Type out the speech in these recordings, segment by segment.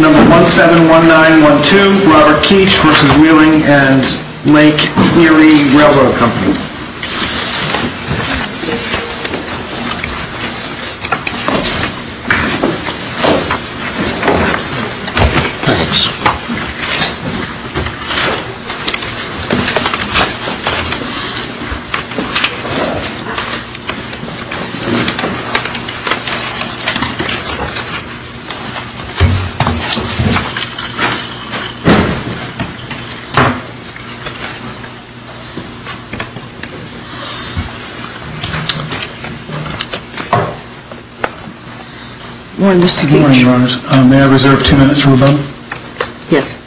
Number 171912, Robert Keech v. Wheeling & Lake Erie Railroad Co. May I reserve two minutes for rebuttal? Yes.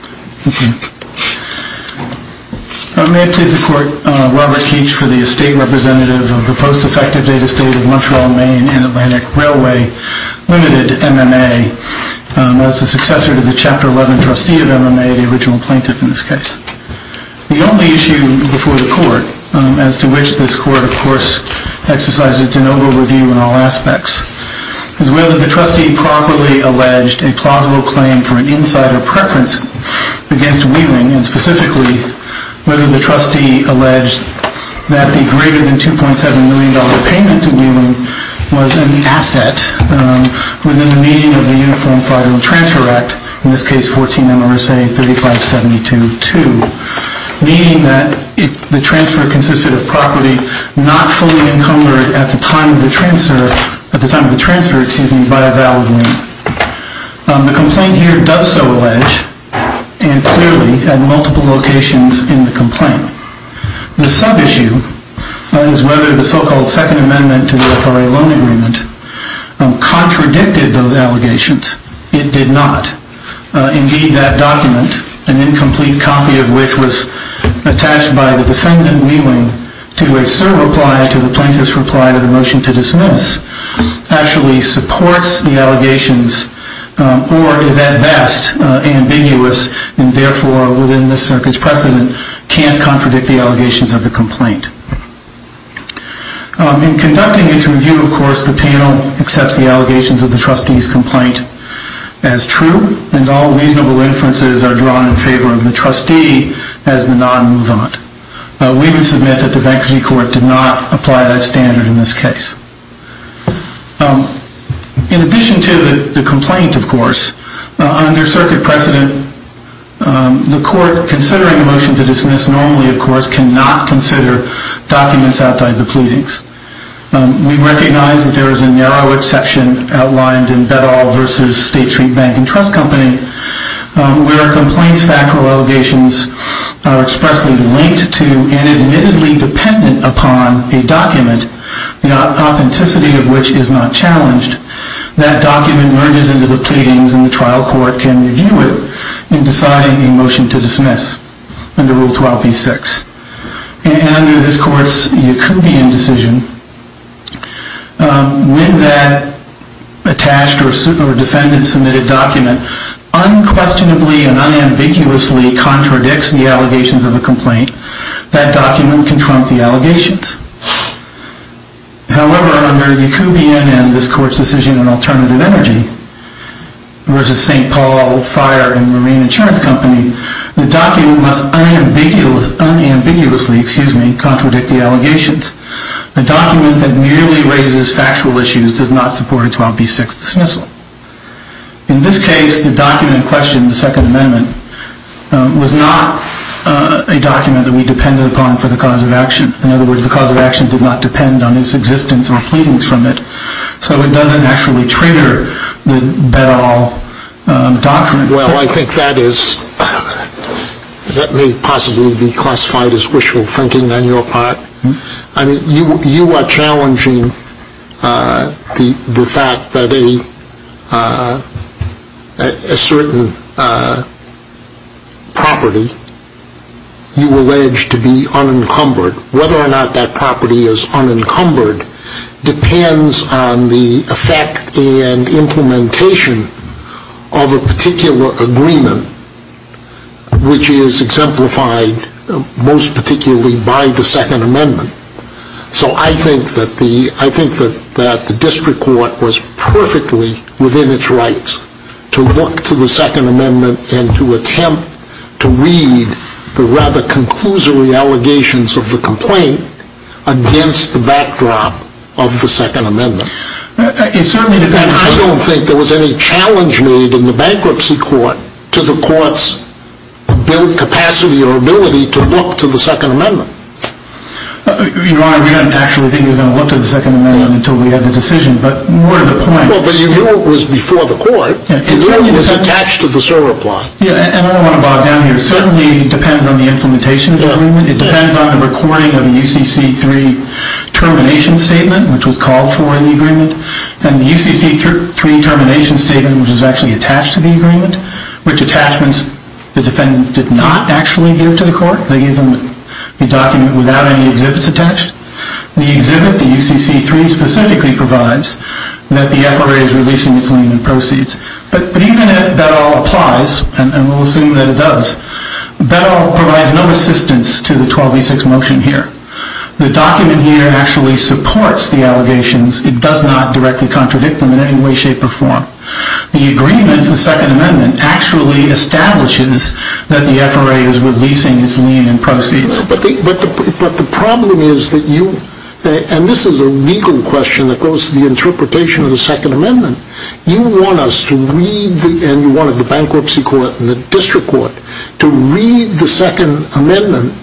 May it please the Court, Robert Keech, for the Estate Representative of the Post-Effective Data State of Montreal, Maine and Atlantic Railway Ltd., MMA, as the successor to the Chapter 11 trustee of MMA, the original plaintiff in this case. The only issue before the Court, as to which this Court, of course, exercises de novo review in all aspects, is whether the trustee properly alleged a plausible claim for an insider preference against Wheeling, and specifically, whether the trustee alleged that the greater than $2.7 million payment to Wheeling was an asset within the meaning of the Uniform Federal Transfer Act, in this case, 14 MRSA 3572-2, meaning that the transfer consisted of property not fully encumbered at the time of the transfer by a valid Wheeling. The complaint here does so allege, and clearly, at multiple locations in the complaint. The sub-issue is whether the so-called Second Amendment to the FRA Loan Agreement contradicted those allegations. It did not. Indeed, that document, an incomplete copy of which was attached by the defendant, Wheeling, to a cert reply to the plaintiff's reply to the motion to dismiss, actually supports the allegations, or is, at best, ambiguous, and therefore, within this circuit's precedent, can't contradict the allegations of the complaint. In conducting its review, of course, the panel accepts the allegations of the trustee's complaint as true, and all reasonable inferences are drawn in favor of the trustee as the non-move-on. We would submit that the Bankruptcy Court did not apply that standard in this case. In addition to the complaint, of course, under circuit precedent, the court, considering a motion to dismiss, normally, of course, cannot consider documents outside the pleadings. We recognize that there is a narrow exception outlined in Beddahl v. State Street Bank & Trust Company, where a complaint's factual allegations are expressly linked to, and admittedly dependent upon, a document, the authenticity of which is not challenged. That document merges into the pleadings, and the trial court can review it in deciding a motion to dismiss under Rule 12b-6. And under this court's Yacoubian decision, when that attached or defendant-submitted document unquestionably and unambiguously contradicts the allegations of the complaint, that document can trump the allegations. However, under Yacoubian and this court's decision in Alternative Energy v. St. Paul Fire & Marine Insurance Company, the document must unambiguously contradict the allegations. A document that merely raises factual issues does not support a 12b-6 dismissal. In this case, the document questioned in the Second Amendment was not a document that we depended upon for the cause of action. In other words, the cause of action did not depend on its existence or pleadings from it, so it doesn't actually trigger the Beddahl Doctrine. Well, I think that is, that may possibly be classified as wishful thinking on your part. I mean, you are challenging the fact that a certain property you allege to be unencumbered. Whether or not that property is unencumbered depends on the effect and implementation of a particular agreement, which is exemplified most particularly by the Second Amendment. So I think that the District Court was perfectly within its rights to look to the Second Amendment and to attempt to read the rather conclusory allegations of the complaint against the backdrop of the Second Amendment. And I don't think there was any challenge made in the Bankruptcy Court to the Court's capacity or ability to look to the Second Amendment. Your Honor, we didn't actually think we were going to look to the Second Amendment until we had the decision, but more to the point. Well, but you knew it was before the Court. You knew it was attached to the SORA plot. And I want to bog down here. It certainly depends on the implementation of the agreement. It depends on the recording of the UCC-3 termination statement, which was called for in the agreement, and the UCC-3 termination statement, which was actually attached to the agreement, which attachments the defendants did not actually give to the Court. They gave them a document without any exhibits attached. The exhibit, the UCC-3, specifically provides that the FRA is releasing its landing proceeds. But even if that all applies, and we'll assume that it does, that all provides no assistance to the 1206 motion here. The document here actually supports the allegations. It does not directly contradict them in any way, shape, or form. The agreement, the Second Amendment, actually establishes that the FRA is releasing its land and proceeds. But the problem is that you, and this is a legal question that goes to the interpretation of the Second Amendment, you want us to read, and you wanted the Bankruptcy Court and the District Court, to read the Second Amendment,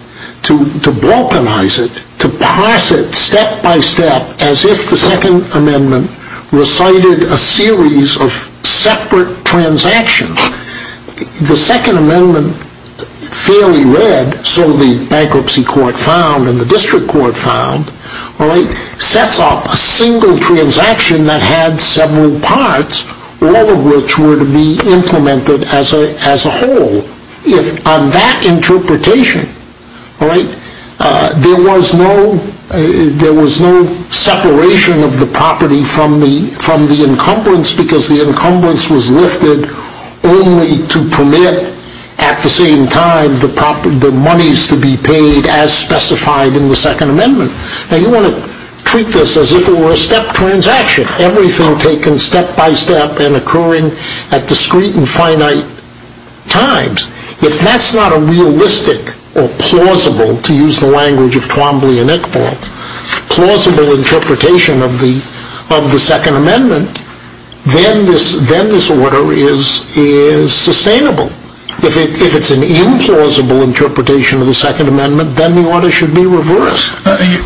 to balkanize it, to parse it step by step, as if the Second Amendment recited a series of separate transactions. The Second Amendment, fairly read, so the Bankruptcy Court found and the District Court found, sets up a single transaction that had several parts, all of which were to be implemented as a whole. On that interpretation, there was no separation of the property from the encumbrance because the encumbrance was lifted only to permit, at the same time, the monies to be paid as specified in the Second Amendment. Now you want to treat this as if it were a step transaction. Everything taken step by step and occurring at discrete and finite times. If that's not a realistic or plausible, to use the language of Twombly and Iqbal, plausible interpretation of the Second Amendment, then this order is sustainable. If it's an implausible interpretation of the Second Amendment, then the order should be reversed.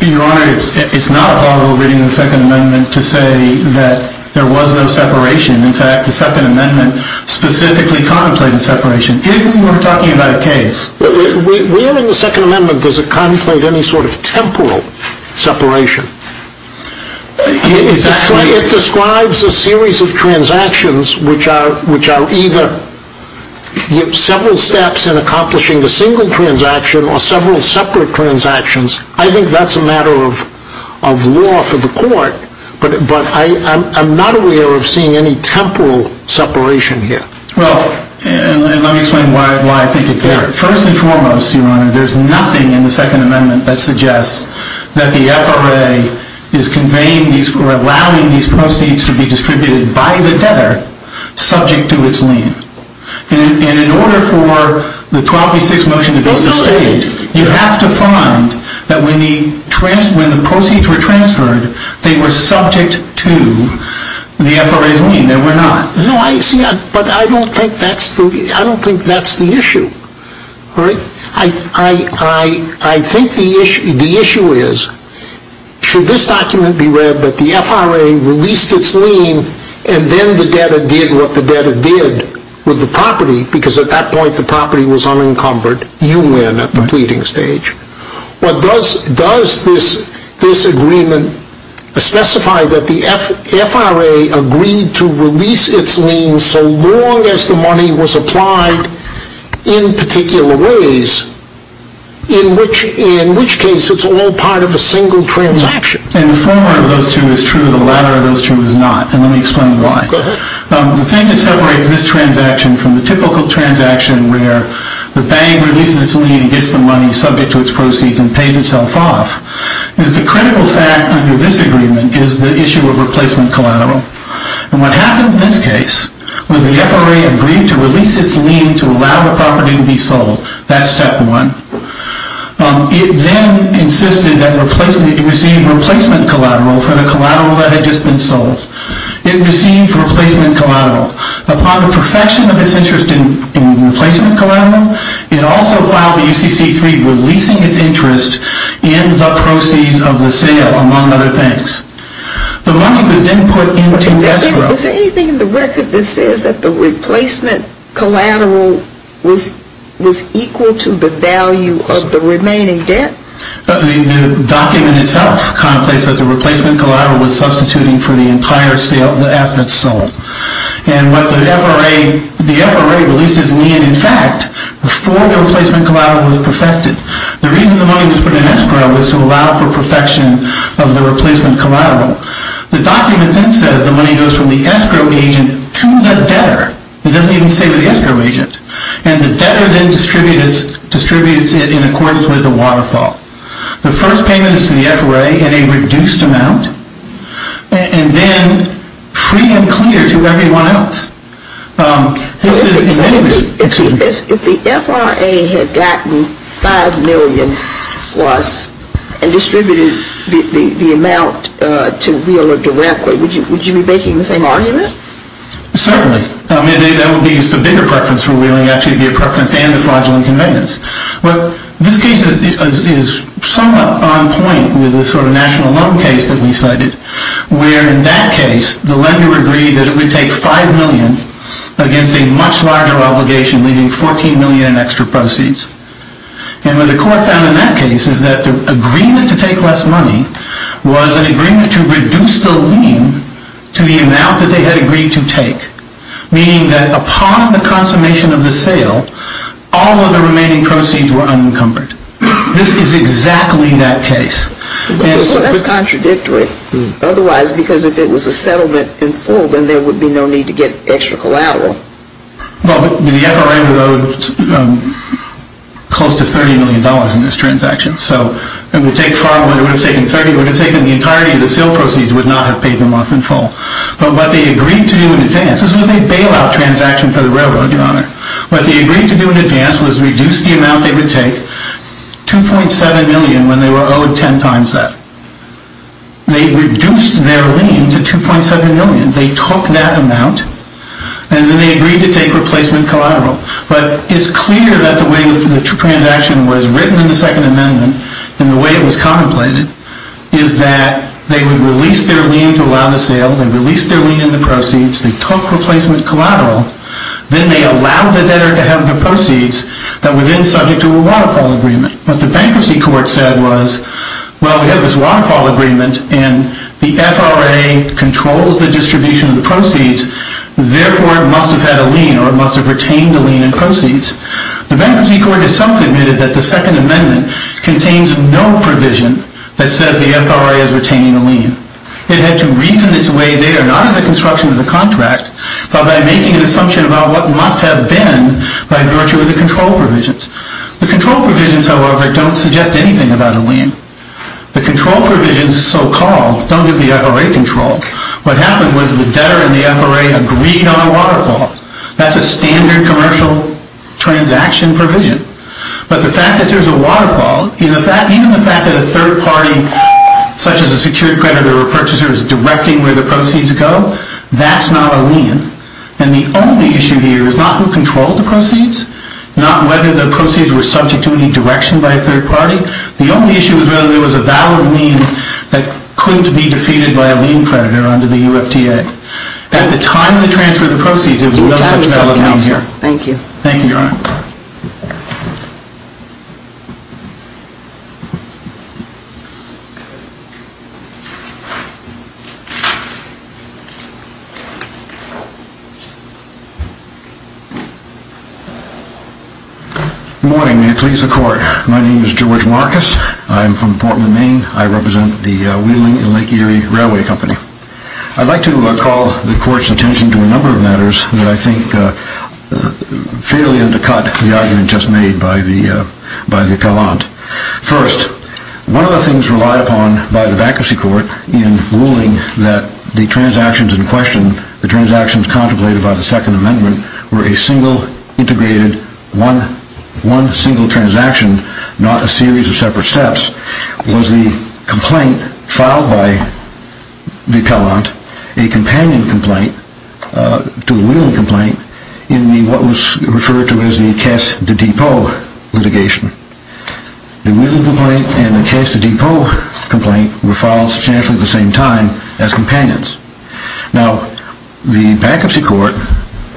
Your Honor, it's not a plausible reading of the Second Amendment to say that there was no separation. In fact, the Second Amendment specifically contemplated separation, even when we're talking about a case. Where in the Second Amendment does it contemplate any sort of temporal separation? It describes a series of transactions which are either several steps in accomplishing a single transaction or several separate transactions. I think that's a matter of law for the court, but I'm not aware of seeing any temporal separation here. Well, let me explain why I think it's there. First and foremost, Your Honor, there's nothing in the Second Amendment that suggests that the FRA is allowing these proceeds to be distributed by the debtor, subject to its lien. And in order for the 1286 motion to be sustained, you have to find that when the proceeds were transferred, they were subject to the FRA's lien. They were not. No, but I don't think that's the issue. I think the issue is, should this document be read that the FRA released its lien and then the debtor did what the debtor did with the property, because at that point the property was unencumbered. You win at the pleading stage. Does this agreement specify that the FRA agreed to release its lien so long as the money was applied in particular ways, in which case it's all part of a single transaction? The former of those two is true. The latter of those two is not. And let me explain why. The thing that separates this transaction from the typical transaction where the bank releases its lien and gets the money subject to its proceeds and pays itself off is the critical fact under this agreement is the issue of replacement collateral. And what happened in this case was the FRA agreed to release its lien to allow the property to be sold. That's step one. It then insisted that it receive replacement collateral for the collateral that had just been sold. It received replacement collateral. Upon the perfection of its interest in replacement collateral, it also filed the UCC-3 releasing its interest in the proceeds of the sale, among other things. The money was then put into the FRA. Is there anything in the record that says that the replacement collateral was equal to the value of the remaining debt? The document itself contemplates that the replacement collateral was substituting for the entire asset sold. And what the FRA releases lien, in fact, before the replacement collateral was perfected, the reason the money was put in extra was to allow for perfection of the replacement collateral. The document then says the money goes from the escrow agent to the debtor. It doesn't even stay with the escrow agent. And the debtor then distributes it in accordance with the waterfall. The first payment is to the FRA in a reduced amount and then free and clear to everyone else. If the FRA had gotten $5 million and distributed the amount to Wheeler directly, would you be making the same argument? Certainly. I mean, that would be the bigger preference for Wheeler. It would actually be a preference and a fraudulent conveyance. But this case is somewhat on point with the sort of national loan case that we cited, where in that case the lender agreed that it would take $5 million against a much larger obligation, leaving $14 million in extra proceeds. And what the court found in that case is that the agreement to take less money was an agreement to reduce the lien to the amount that they had agreed to take, meaning that upon the consummation of the sale, all of the remaining proceeds were unencumbered. This is exactly that case. Well, that's contradictory. Otherwise, because if it was a settlement in full, then there would be no need to get extra collateral. Well, the FRA would owe close to $30 million in this transaction. So it would take $5 million. It would have taken $30 million. It would have taken the entirety of the sale proceeds. It would not have paid them off in full. But what they agreed to do in advance, this was a bailout transaction for the railroad, Your Honor. What they agreed to do in advance was reduce the amount they would take, $2.7 million, when they were owed 10 times that. They reduced their lien to $2.7 million. They took that amount, and then they agreed to take replacement collateral. But it's clear that the way the transaction was written in the Second Amendment and the way it was contemplated is that they would release their lien to allow the sale. They released their lien and the proceeds. They took replacement collateral. Then they allowed the debtor to have the proceeds that were then subject to a waterfall agreement. What the bankruptcy court said was, well, we have this waterfall agreement, and the FRA controls the distribution of the proceeds. Therefore, it must have had a lien, or it must have retained a lien in proceeds. The bankruptcy court itself admitted that the Second Amendment contains no provision that says the FRA is retaining a lien. It had to reason its way there, not as a construction of the contract, but by making an assumption about what must have been by virtue of the control provisions. The control provisions, however, don't suggest anything about a lien. The control provisions, so-called, don't give the FRA control. What happened was the debtor and the FRA agreed on a waterfall. That's a standard commercial transaction provision. But the fact that there's a waterfall, even the fact that a third party, such as a security creditor or a purchaser, is directing where the proceeds go, that's not a lien. And the only issue here is not who controlled the proceeds, not whether the proceeds were subject to any direction by a third party. The only issue is whether there was a valid lien that couldn't be defeated by a lien creditor under the UFTA. At the time they transferred the proceeds, there was no such valid lien here. Thank you. Thank you, Your Honor. Good morning. May it please the Court. My name is George Marcus. I am from Portland, Maine. I represent the Wheeling and Lake Erie Railway Company. I'd like to call the Court's attention to a number of matters that I think fairly undercut the argument just made by the appellant. First, one of the things relied upon by the bankruptcy court in ruling that the transactions in question, the transactions contemplated by the Second Amendment, were a single integrated, one single transaction, not a series of separate steps, was the complaint filed by the appellant, a companion complaint to the Wheeling complaint, in what was referred to as the Case de Depot litigation. The Wheeling complaint and the Case de Depot complaint were filed substantially at the same time as companions. Now, the bankruptcy court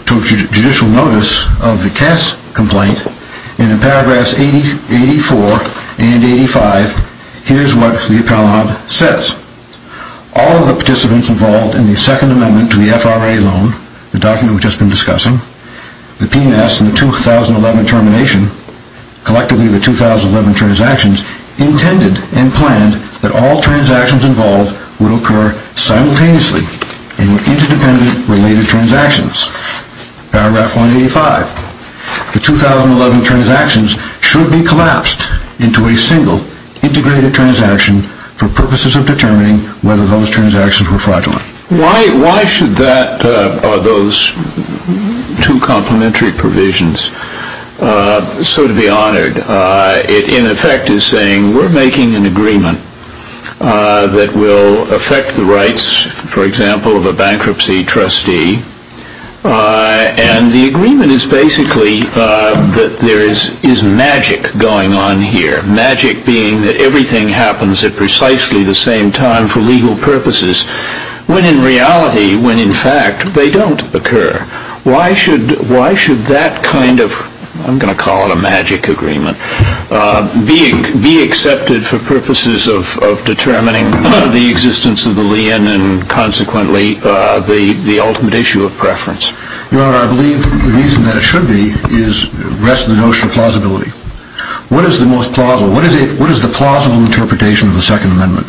took judicial notice of the Case complaint, and in paragraphs 84 and 85, here's what the appellant says. All of the participants involved in the Second Amendment to the FRA loan, the document we've just been discussing, the P&S and the 2011 termination, collectively the 2011 transactions, intended and planned that all transactions involved would occur simultaneously in interdependent related transactions. Paragraph 185. The 2011 transactions should be collapsed into a single, integrated transaction for purposes of determining whether those transactions were fraudulent. Why should those two complementary provisions be honored? It, in effect, is saying we're making an agreement that will affect the rights, for example, of a bankruptcy trustee, and the agreement is basically that there is magic going on here. Magic being that everything happens at precisely the same time for legal purposes, when in reality, when in fact, they don't occur. Why should that kind of, I'm going to call it a magic agreement, be accepted for purposes of determining the existence of the lien and consequently the ultimate issue of preference? Your Honor, I believe the reason that it should be rests in the notion of plausibility. What is the most plausible? What is the plausible interpretation of the Second Amendment?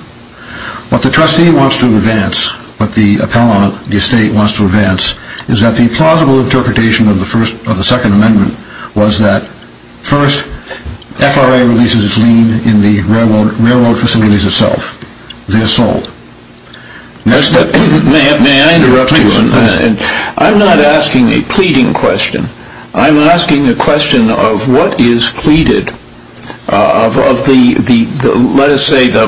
What the trustee wants to advance, what the appellant, the estate, wants to advance, is that the plausible interpretation of the Second Amendment was that, first, FRA releases its lien in the railroad facilities itself. They're sold. May I interrupt you? Please. I'm not asking a pleading question. I'm asking a question of what is pleaded of the, let us say, the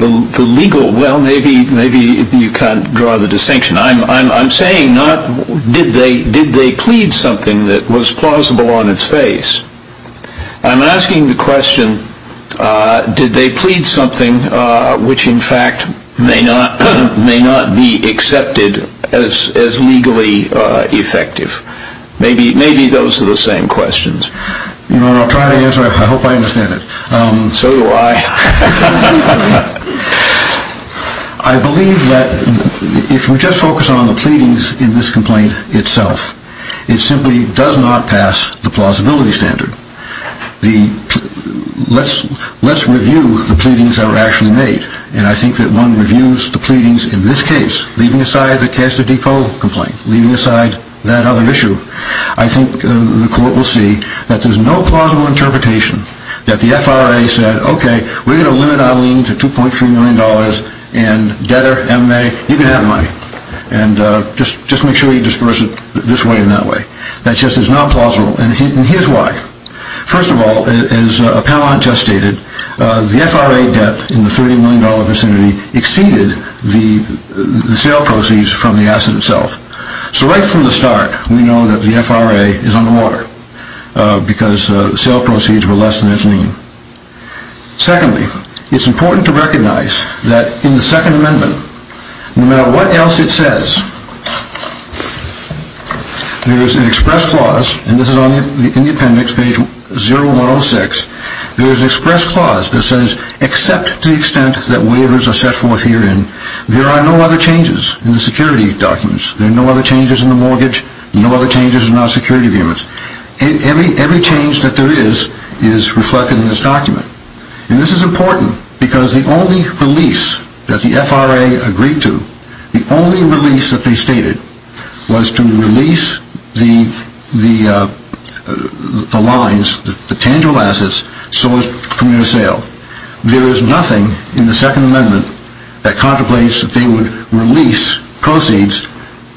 legal, well, maybe you can't draw the distinction. I'm saying not did they plead something that was plausible on its face. I'm asking the question, did they plead something which, in fact, may not be accepted as legally effective? Maybe those are the same questions. Your Honor, I'll try to answer. I hope I understand it. So do I. I believe that if we just focus on the pleadings in this complaint itself, it simply does not pass the plausibility standard. Let's review the pleadings that were actually made, and I think that one reviews the pleadings in this case, leaving aside the Caster Depot complaint, leaving aside that other issue. I think the Court will see that there's no plausible interpretation that the FRA said, okay, we're going to limit our lien to $2.3 million, and debtor, M.A., you can have money, and just make sure you disperse it this way and that way. That just is not plausible, and here's why. First of all, as a panel contest stated, the FRA debt in the $30 million vicinity exceeded the sale proceeds from the asset itself. So right from the start, we know that the FRA is underwater because the sale proceeds were less than its lien. Secondly, it's important to recognize that in the Second Amendment, no matter what else it says, there is an express clause, and this is on the Independence, page 0106, there is an express clause that says, except to the extent that waivers are set forth herein, there are no other changes in the security documents. There are no other changes in the mortgage, no other changes in our security agreements. Every change that there is, is reflected in this document. And this is important because the only release that the FRA agreed to, the only release that they stated, was to release the lines, the tangible assets sourced from your sale. There is nothing in the Second Amendment that contemplates that they would release proceeds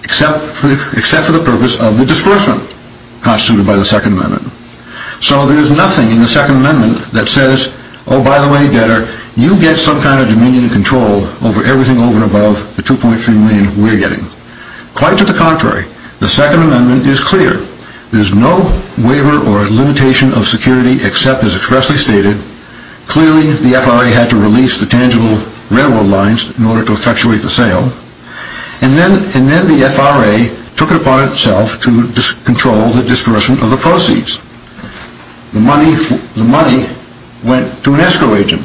except for the purpose of the disbursement constituted by the Second Amendment. So there is nothing in the Second Amendment that says, oh by the way debtor, you get some kind of dominion and control over everything over and above the $2.3 million we're getting. Quite to the contrary, the Second Amendment is clear. There is no waiver or limitation of security except as expressly stated. Clearly the FRA had to release the tangible railroad lines in order to effectuate the sale. And then the FRA took it upon itself to control the disbursement of the proceeds. The money went to an escrow agent.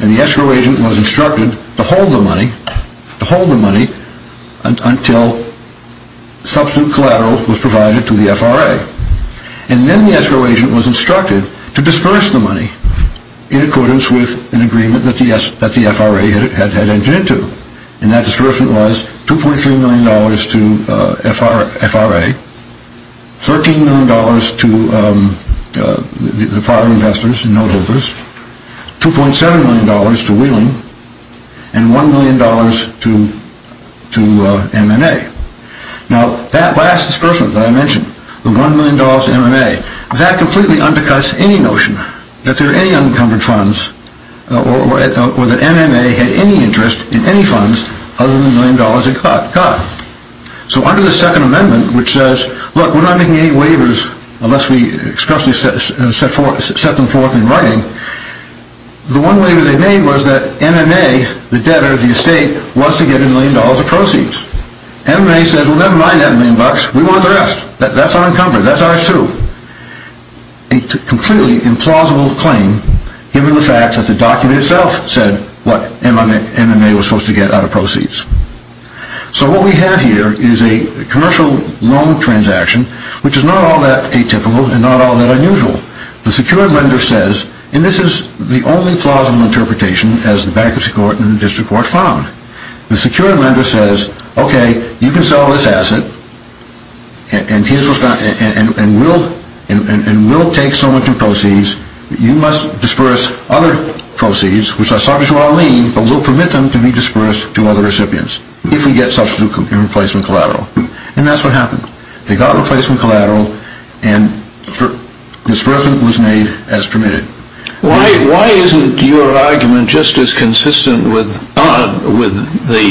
And the escrow agent was instructed to hold the money until substitute collateral was provided to the FRA. And then the escrow agent was instructed to disburse the money in accordance with an agreement that the FRA had entered into. And that disbursement was $2.3 million to FRA, $13 million to the prior investors and note holders, $2.7 million to Wheeling, and $1 million to M&A. Now that last disbursement that I mentioned, the $1 million to M&A, that completely undercuts any notion that there are any unencumbered funds or that M&A had any interest in any funds other than the $1 million it got. So under the Second Amendment, which says, look, we're not making any waivers unless we expressly set them forth in writing, the one waiver they made was that M&A, the debtor of the estate, wants to get $1 million of proceeds. M&A says, well, never mind that $1 million, we want the rest. That's unencumbered, that's ours too. A completely implausible claim, given the fact that the document itself said what M&A was supposed to get out of proceeds. So what we have here is a commercial loan transaction, which is not all that atypical and not all that unusual. The security lender says, and this is the only plausible interpretation as the bankruptcy court and the district court found, the security lender says, okay, you can sell this asset, and we'll take so much in proceeds, you must disperse other proceeds, which are subject to our lien, but we'll permit them to be dispersed to other recipients, if we get substitute and replacement collateral. And that's what happened. They got replacement collateral, and disbursement was made as permitted. Why isn't your argument just as consistent with the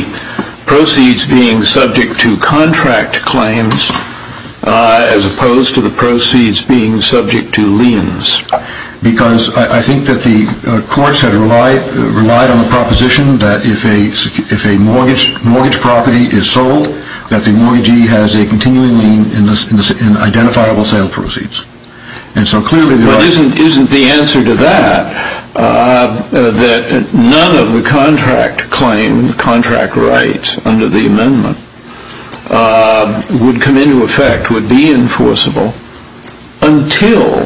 proceeds being subject to contract claims as opposed to the proceeds being subject to liens? Because I think that the courts had relied on the proposition that if a mortgage property is sold, that the mortgagee has a continuing lien in identifiable sale proceeds. Isn't the answer to that that none of the contract claims, contract rights under the amendment, would come into effect, would be enforceable, until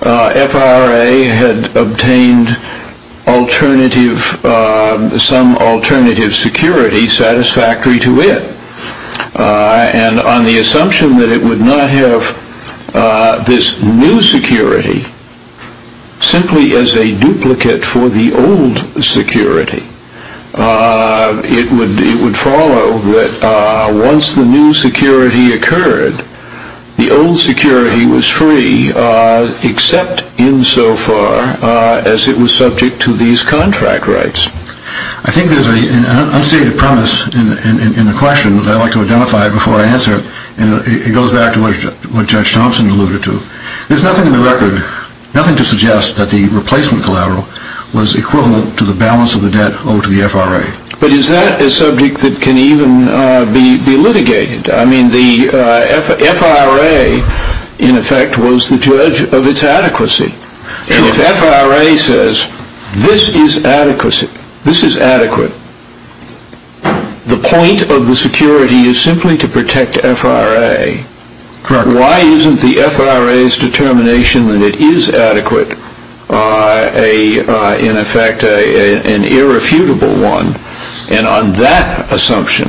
FRA had obtained some alternative security satisfactory to it, and on the assumption that it would not have this new security, simply as a duplicate for the old security, it would follow that once the new security occurred, the old security was free, except insofar as it was subject to these contract rights. I think there's an unstated premise in the question that I'd like to identify before I answer it, and it goes back to what Judge Thompson alluded to. There's nothing in the record, nothing to suggest that the replacement collateral was equivalent to the balance of the debt owed to the FRA. But is that a subject that can even be litigated? I mean, the FRA, in effect, was the judge of its adequacy. If FRA says this is adequate, the point of the security is simply to protect FRA. Why isn't the FRA's determination that it is adequate, in effect, an irrefutable one? And on that assumption,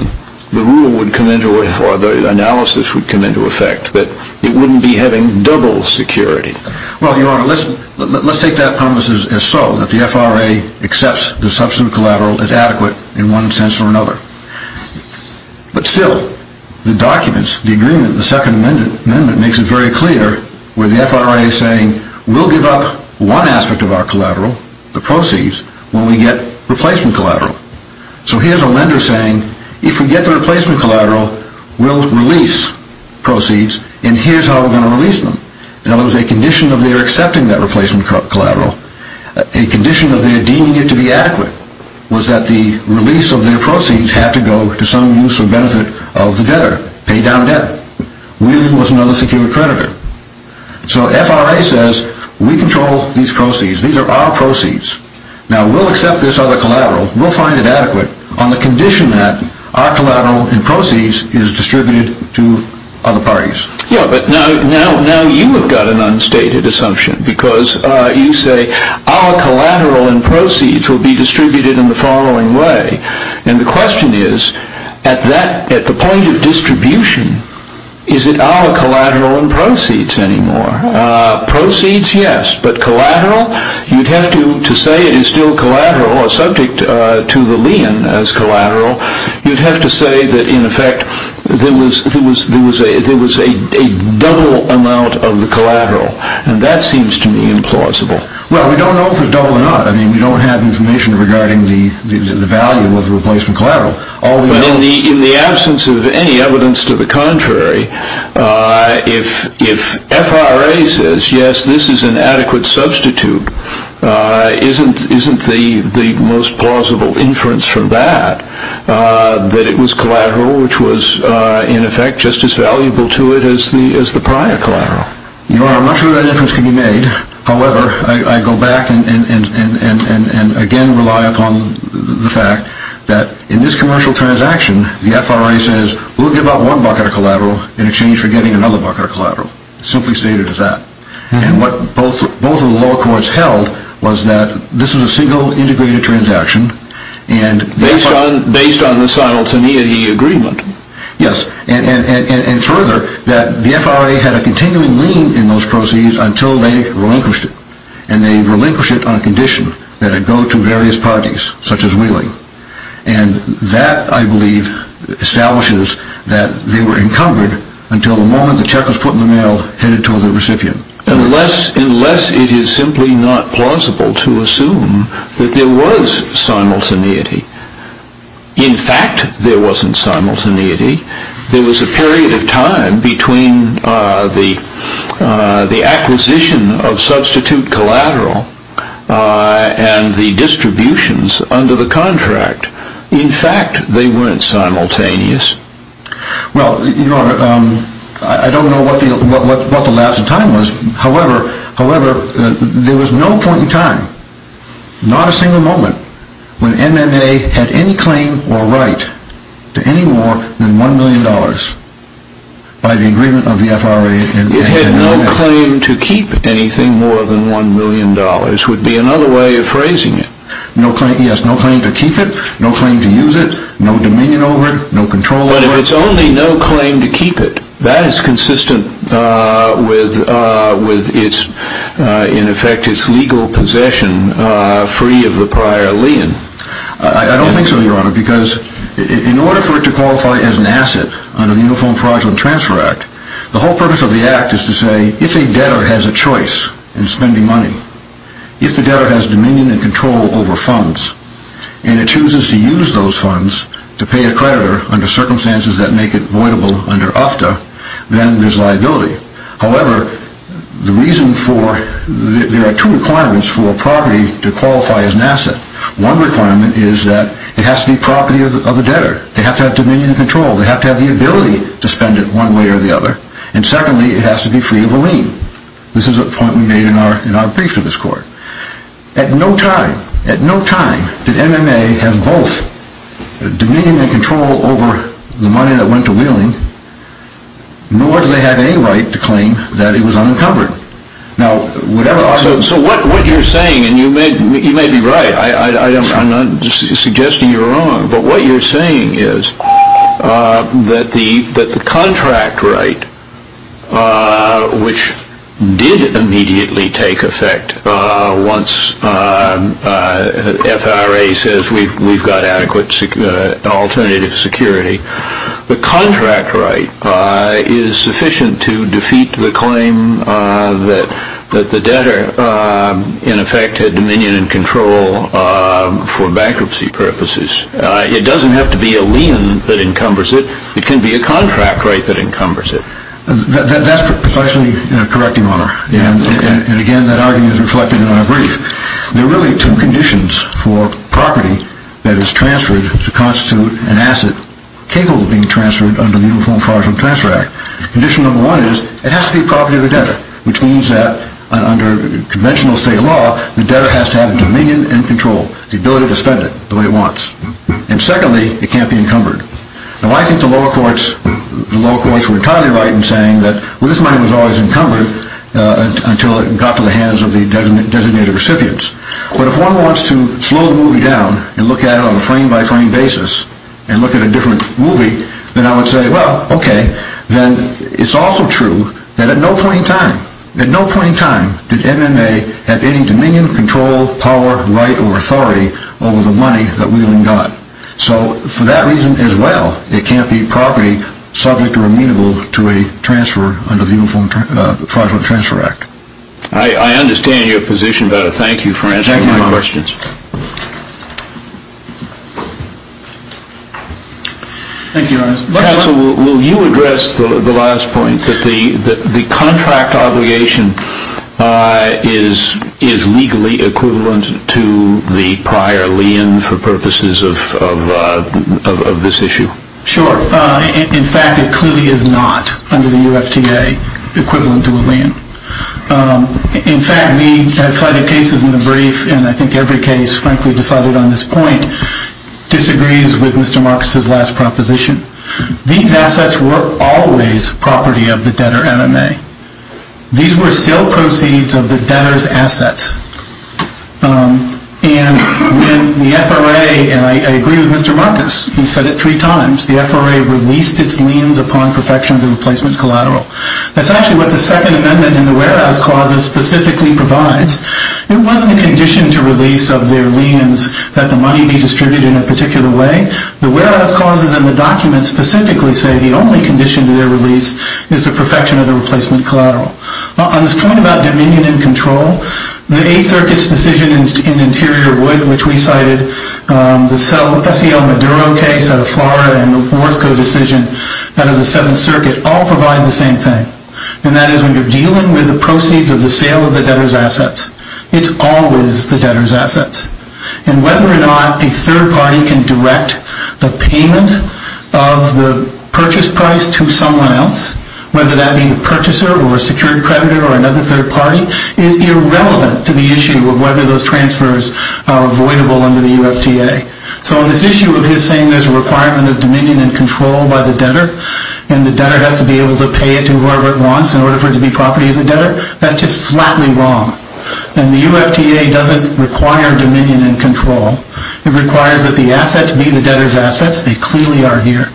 the rule would come into, or the analysis would come into effect, that it wouldn't be having double security. Well, Your Honor, let's take that premise as so, that the FRA accepts the substitute collateral as adequate in one sense or another. But still, the documents, the agreement, the Second Amendment makes it very clear where the FRA is saying we'll give up one aspect of our collateral, the proceeds, when we get replacement collateral. So here's a lender saying if we get the replacement collateral, we'll release proceeds, and here's how we're going to release them. Now, there was a condition of their accepting that replacement collateral. A condition of their deeming it to be adequate was that the release of their proceeds had to go to some use or benefit of the debtor, pay down debt. Wheeling was another secure creditor. So FRA says we control these proceeds, these are our proceeds. Now, we'll accept this other collateral, we'll find it adequate, on the condition that our collateral and proceeds is distributed to other parties. Yeah, but now you have got an unstated assumption, because you say our collateral and proceeds will be distributed in the following way. And the question is, at the point of distribution, is it our collateral and proceeds anymore? Proceeds, yes, but collateral? You'd have to, to say it is still collateral or subject to the lien as collateral, you'd have to say that, in effect, there was a double amount of the collateral, and that seems to me implausible. Well, we don't know if it's double or not. I mean, we don't have information regarding the value of the replacement collateral. But in the absence of any evidence to the contrary, if FRA says, yes, this is an adequate substitute, isn't the most plausible inference from that that it was collateral, which was, in effect, just as valuable to it as the prior collateral? You are not sure that inference can be made. However, I go back and again rely upon the fact that in this commercial transaction, the FRA says, we'll give out one bucket of collateral in exchange for getting another bucket of collateral. Simply stated as that. And what both of the law courts held was that this was a single integrated transaction. Based on the simultaneity agreement? Yes, and further, that the FRA had a continuing lien in those proceeds until they relinquished it. And they relinquished it on condition that it go to various parties, such as Wheeling. And that, I believe, establishes that they were encumbered until the moment the check was put in the mail and handed to the recipient. Unless it is simply not plausible to assume that there was simultaneity. In fact, there wasn't simultaneity. There was a period of time between the acquisition of substitute collateral and the distributions under the contract. In fact, they weren't simultaneous. Well, Your Honor, I don't know what the lapse of time was. However, there was no point in time, not a single moment, when MMA had any claim or right to any more than $1 million by the agreement of the FRA. It had no claim to keep anything more than $1 million would be another way of phrasing it. Yes, no claim to keep it, no claim to use it, no dominion over it, no control over it. But if it's only no claim to keep it, that is consistent with, in effect, its legal possession free of the prior lien. I don't think so, Your Honor, because in order for it to qualify as an asset under the Uniform Fraudulent Transfer Act, the whole purpose of the act is to say, if a debtor has a choice in spending money, if the debtor has dominion and control over funds, and it chooses to use those funds to pay a creditor under circumstances that make it voidable under OFTA, then there's liability. However, there are two requirements for a property to qualify as an asset. One requirement is that it has to be property of the debtor. They have to have dominion and control. They have to have the ability to spend it one way or the other. And secondly, it has to be free of a lien. This is a point we made in our brief to this Court. At no time, at no time, did MMA have both dominion and control over the money that went to Wheeling, nor did they have any right to claim that it was unencumbered. So what you're saying, and you may be right, I'm not suggesting you're wrong, but what you're saying is that the contract right, which did immediately take effect once FRA says we've got adequate alternative security, the contract right is sufficient to defeat the claim that the debtor, in effect, had dominion and control for bankruptcy purposes. It doesn't have to be a lien that encumbers it. It can be a contract right that encumbers it. That's precisely correct, Your Honor. And again, that argument is reflected in our brief. There are really two conditions for property that is transferred to constitute an asset capable of being transferred under the Uniform Fraud and Transfer Act. Condition number one is it has to be property of the debtor, which means that under conventional state law, the debtor has to have dominion and control, the ability to spend it the way it wants. And secondly, it can't be encumbered. Now, I think the lower courts were entirely right in saying that, well, this money was always encumbered until it got to the hands of the designated recipients. But if one wants to slow the movie down and look at it on a frame-by-frame basis and look at a different movie, then I would say, well, okay, then it's also true that at no point in time, at no point in time did MMA have any dominion, control, power, right, or authority over the money that Wheeling got. So for that reason as well, it can't be property subject or amenable to a transfer under the Uniform Fraud and Transfer Act. I understand your position, but I thank you for answering my questions. Thank you, Your Honor. Counsel, will you address the last point that the contract obligation is legally equivalent to the prior lien for purposes of this issue? Sure. In fact, it clearly is not, under the UFTA, equivalent to a lien. In fact, we have cited cases in the brief, and I think every case, frankly, decided on this point, disagrees with Mr. Marcus's last proposition. These assets were always property of the debtor MMA. These were still proceeds of the debtor's assets. And when the FRA, and I agree with Mr. Marcus, he said it three times, the FRA released its liens upon perfection of the replacement collateral. That's actually what the Second Amendment in the Warehouse Clause specifically provides. It wasn't a condition to release of their liens that the money be distributed in a particular way. The Warehouse Clause and the document specifically say the only condition to their release is the perfection of the replacement collateral. On this point about dominion and control, the Eighth Circuit's decision in Interior Wood, which we cited, the SEL Maduro case out of Florida, and the Worthco decision out of the Seventh Circuit, all provide the same thing. And that is when you're dealing with the proceeds of the sale of the debtor's assets, it's always the debtor's assets. And whether or not a third party can direct the payment of the purchase price to someone else, whether that be the purchaser or a secured creditor or another third party, is irrelevant to the issue of whether those transfers are avoidable under the UFTA. So on this issue of his saying there's a requirement of dominion and control by the debtor, and the debtor has to be able to pay it to whoever it wants in order for it to be property of the debtor, that's just flatly wrong. And the UFTA doesn't require dominion and control. It requires that the assets be the debtor's assets. They clearly are here.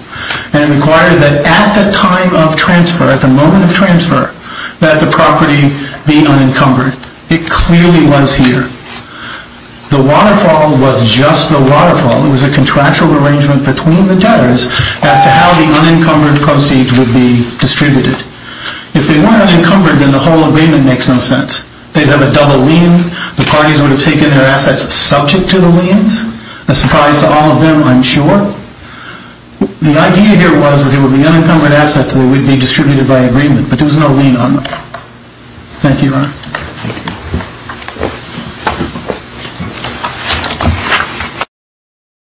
And it requires that at the time of transfer, at the moment of transfer, that the property be unencumbered. It clearly was here. The waterfall was just the waterfall. It was a contractual arrangement between the debtors as to how the unencumbered proceeds would be distributed. If they weren't unencumbered, then the whole agreement makes no sense. They'd have a double lien. The parties would have taken their assets subject to the liens. A surprise to all of them, I'm sure. The idea here was that there would be unencumbered assets that would be distributed by agreement, Thank you, Your Honor. Thank you.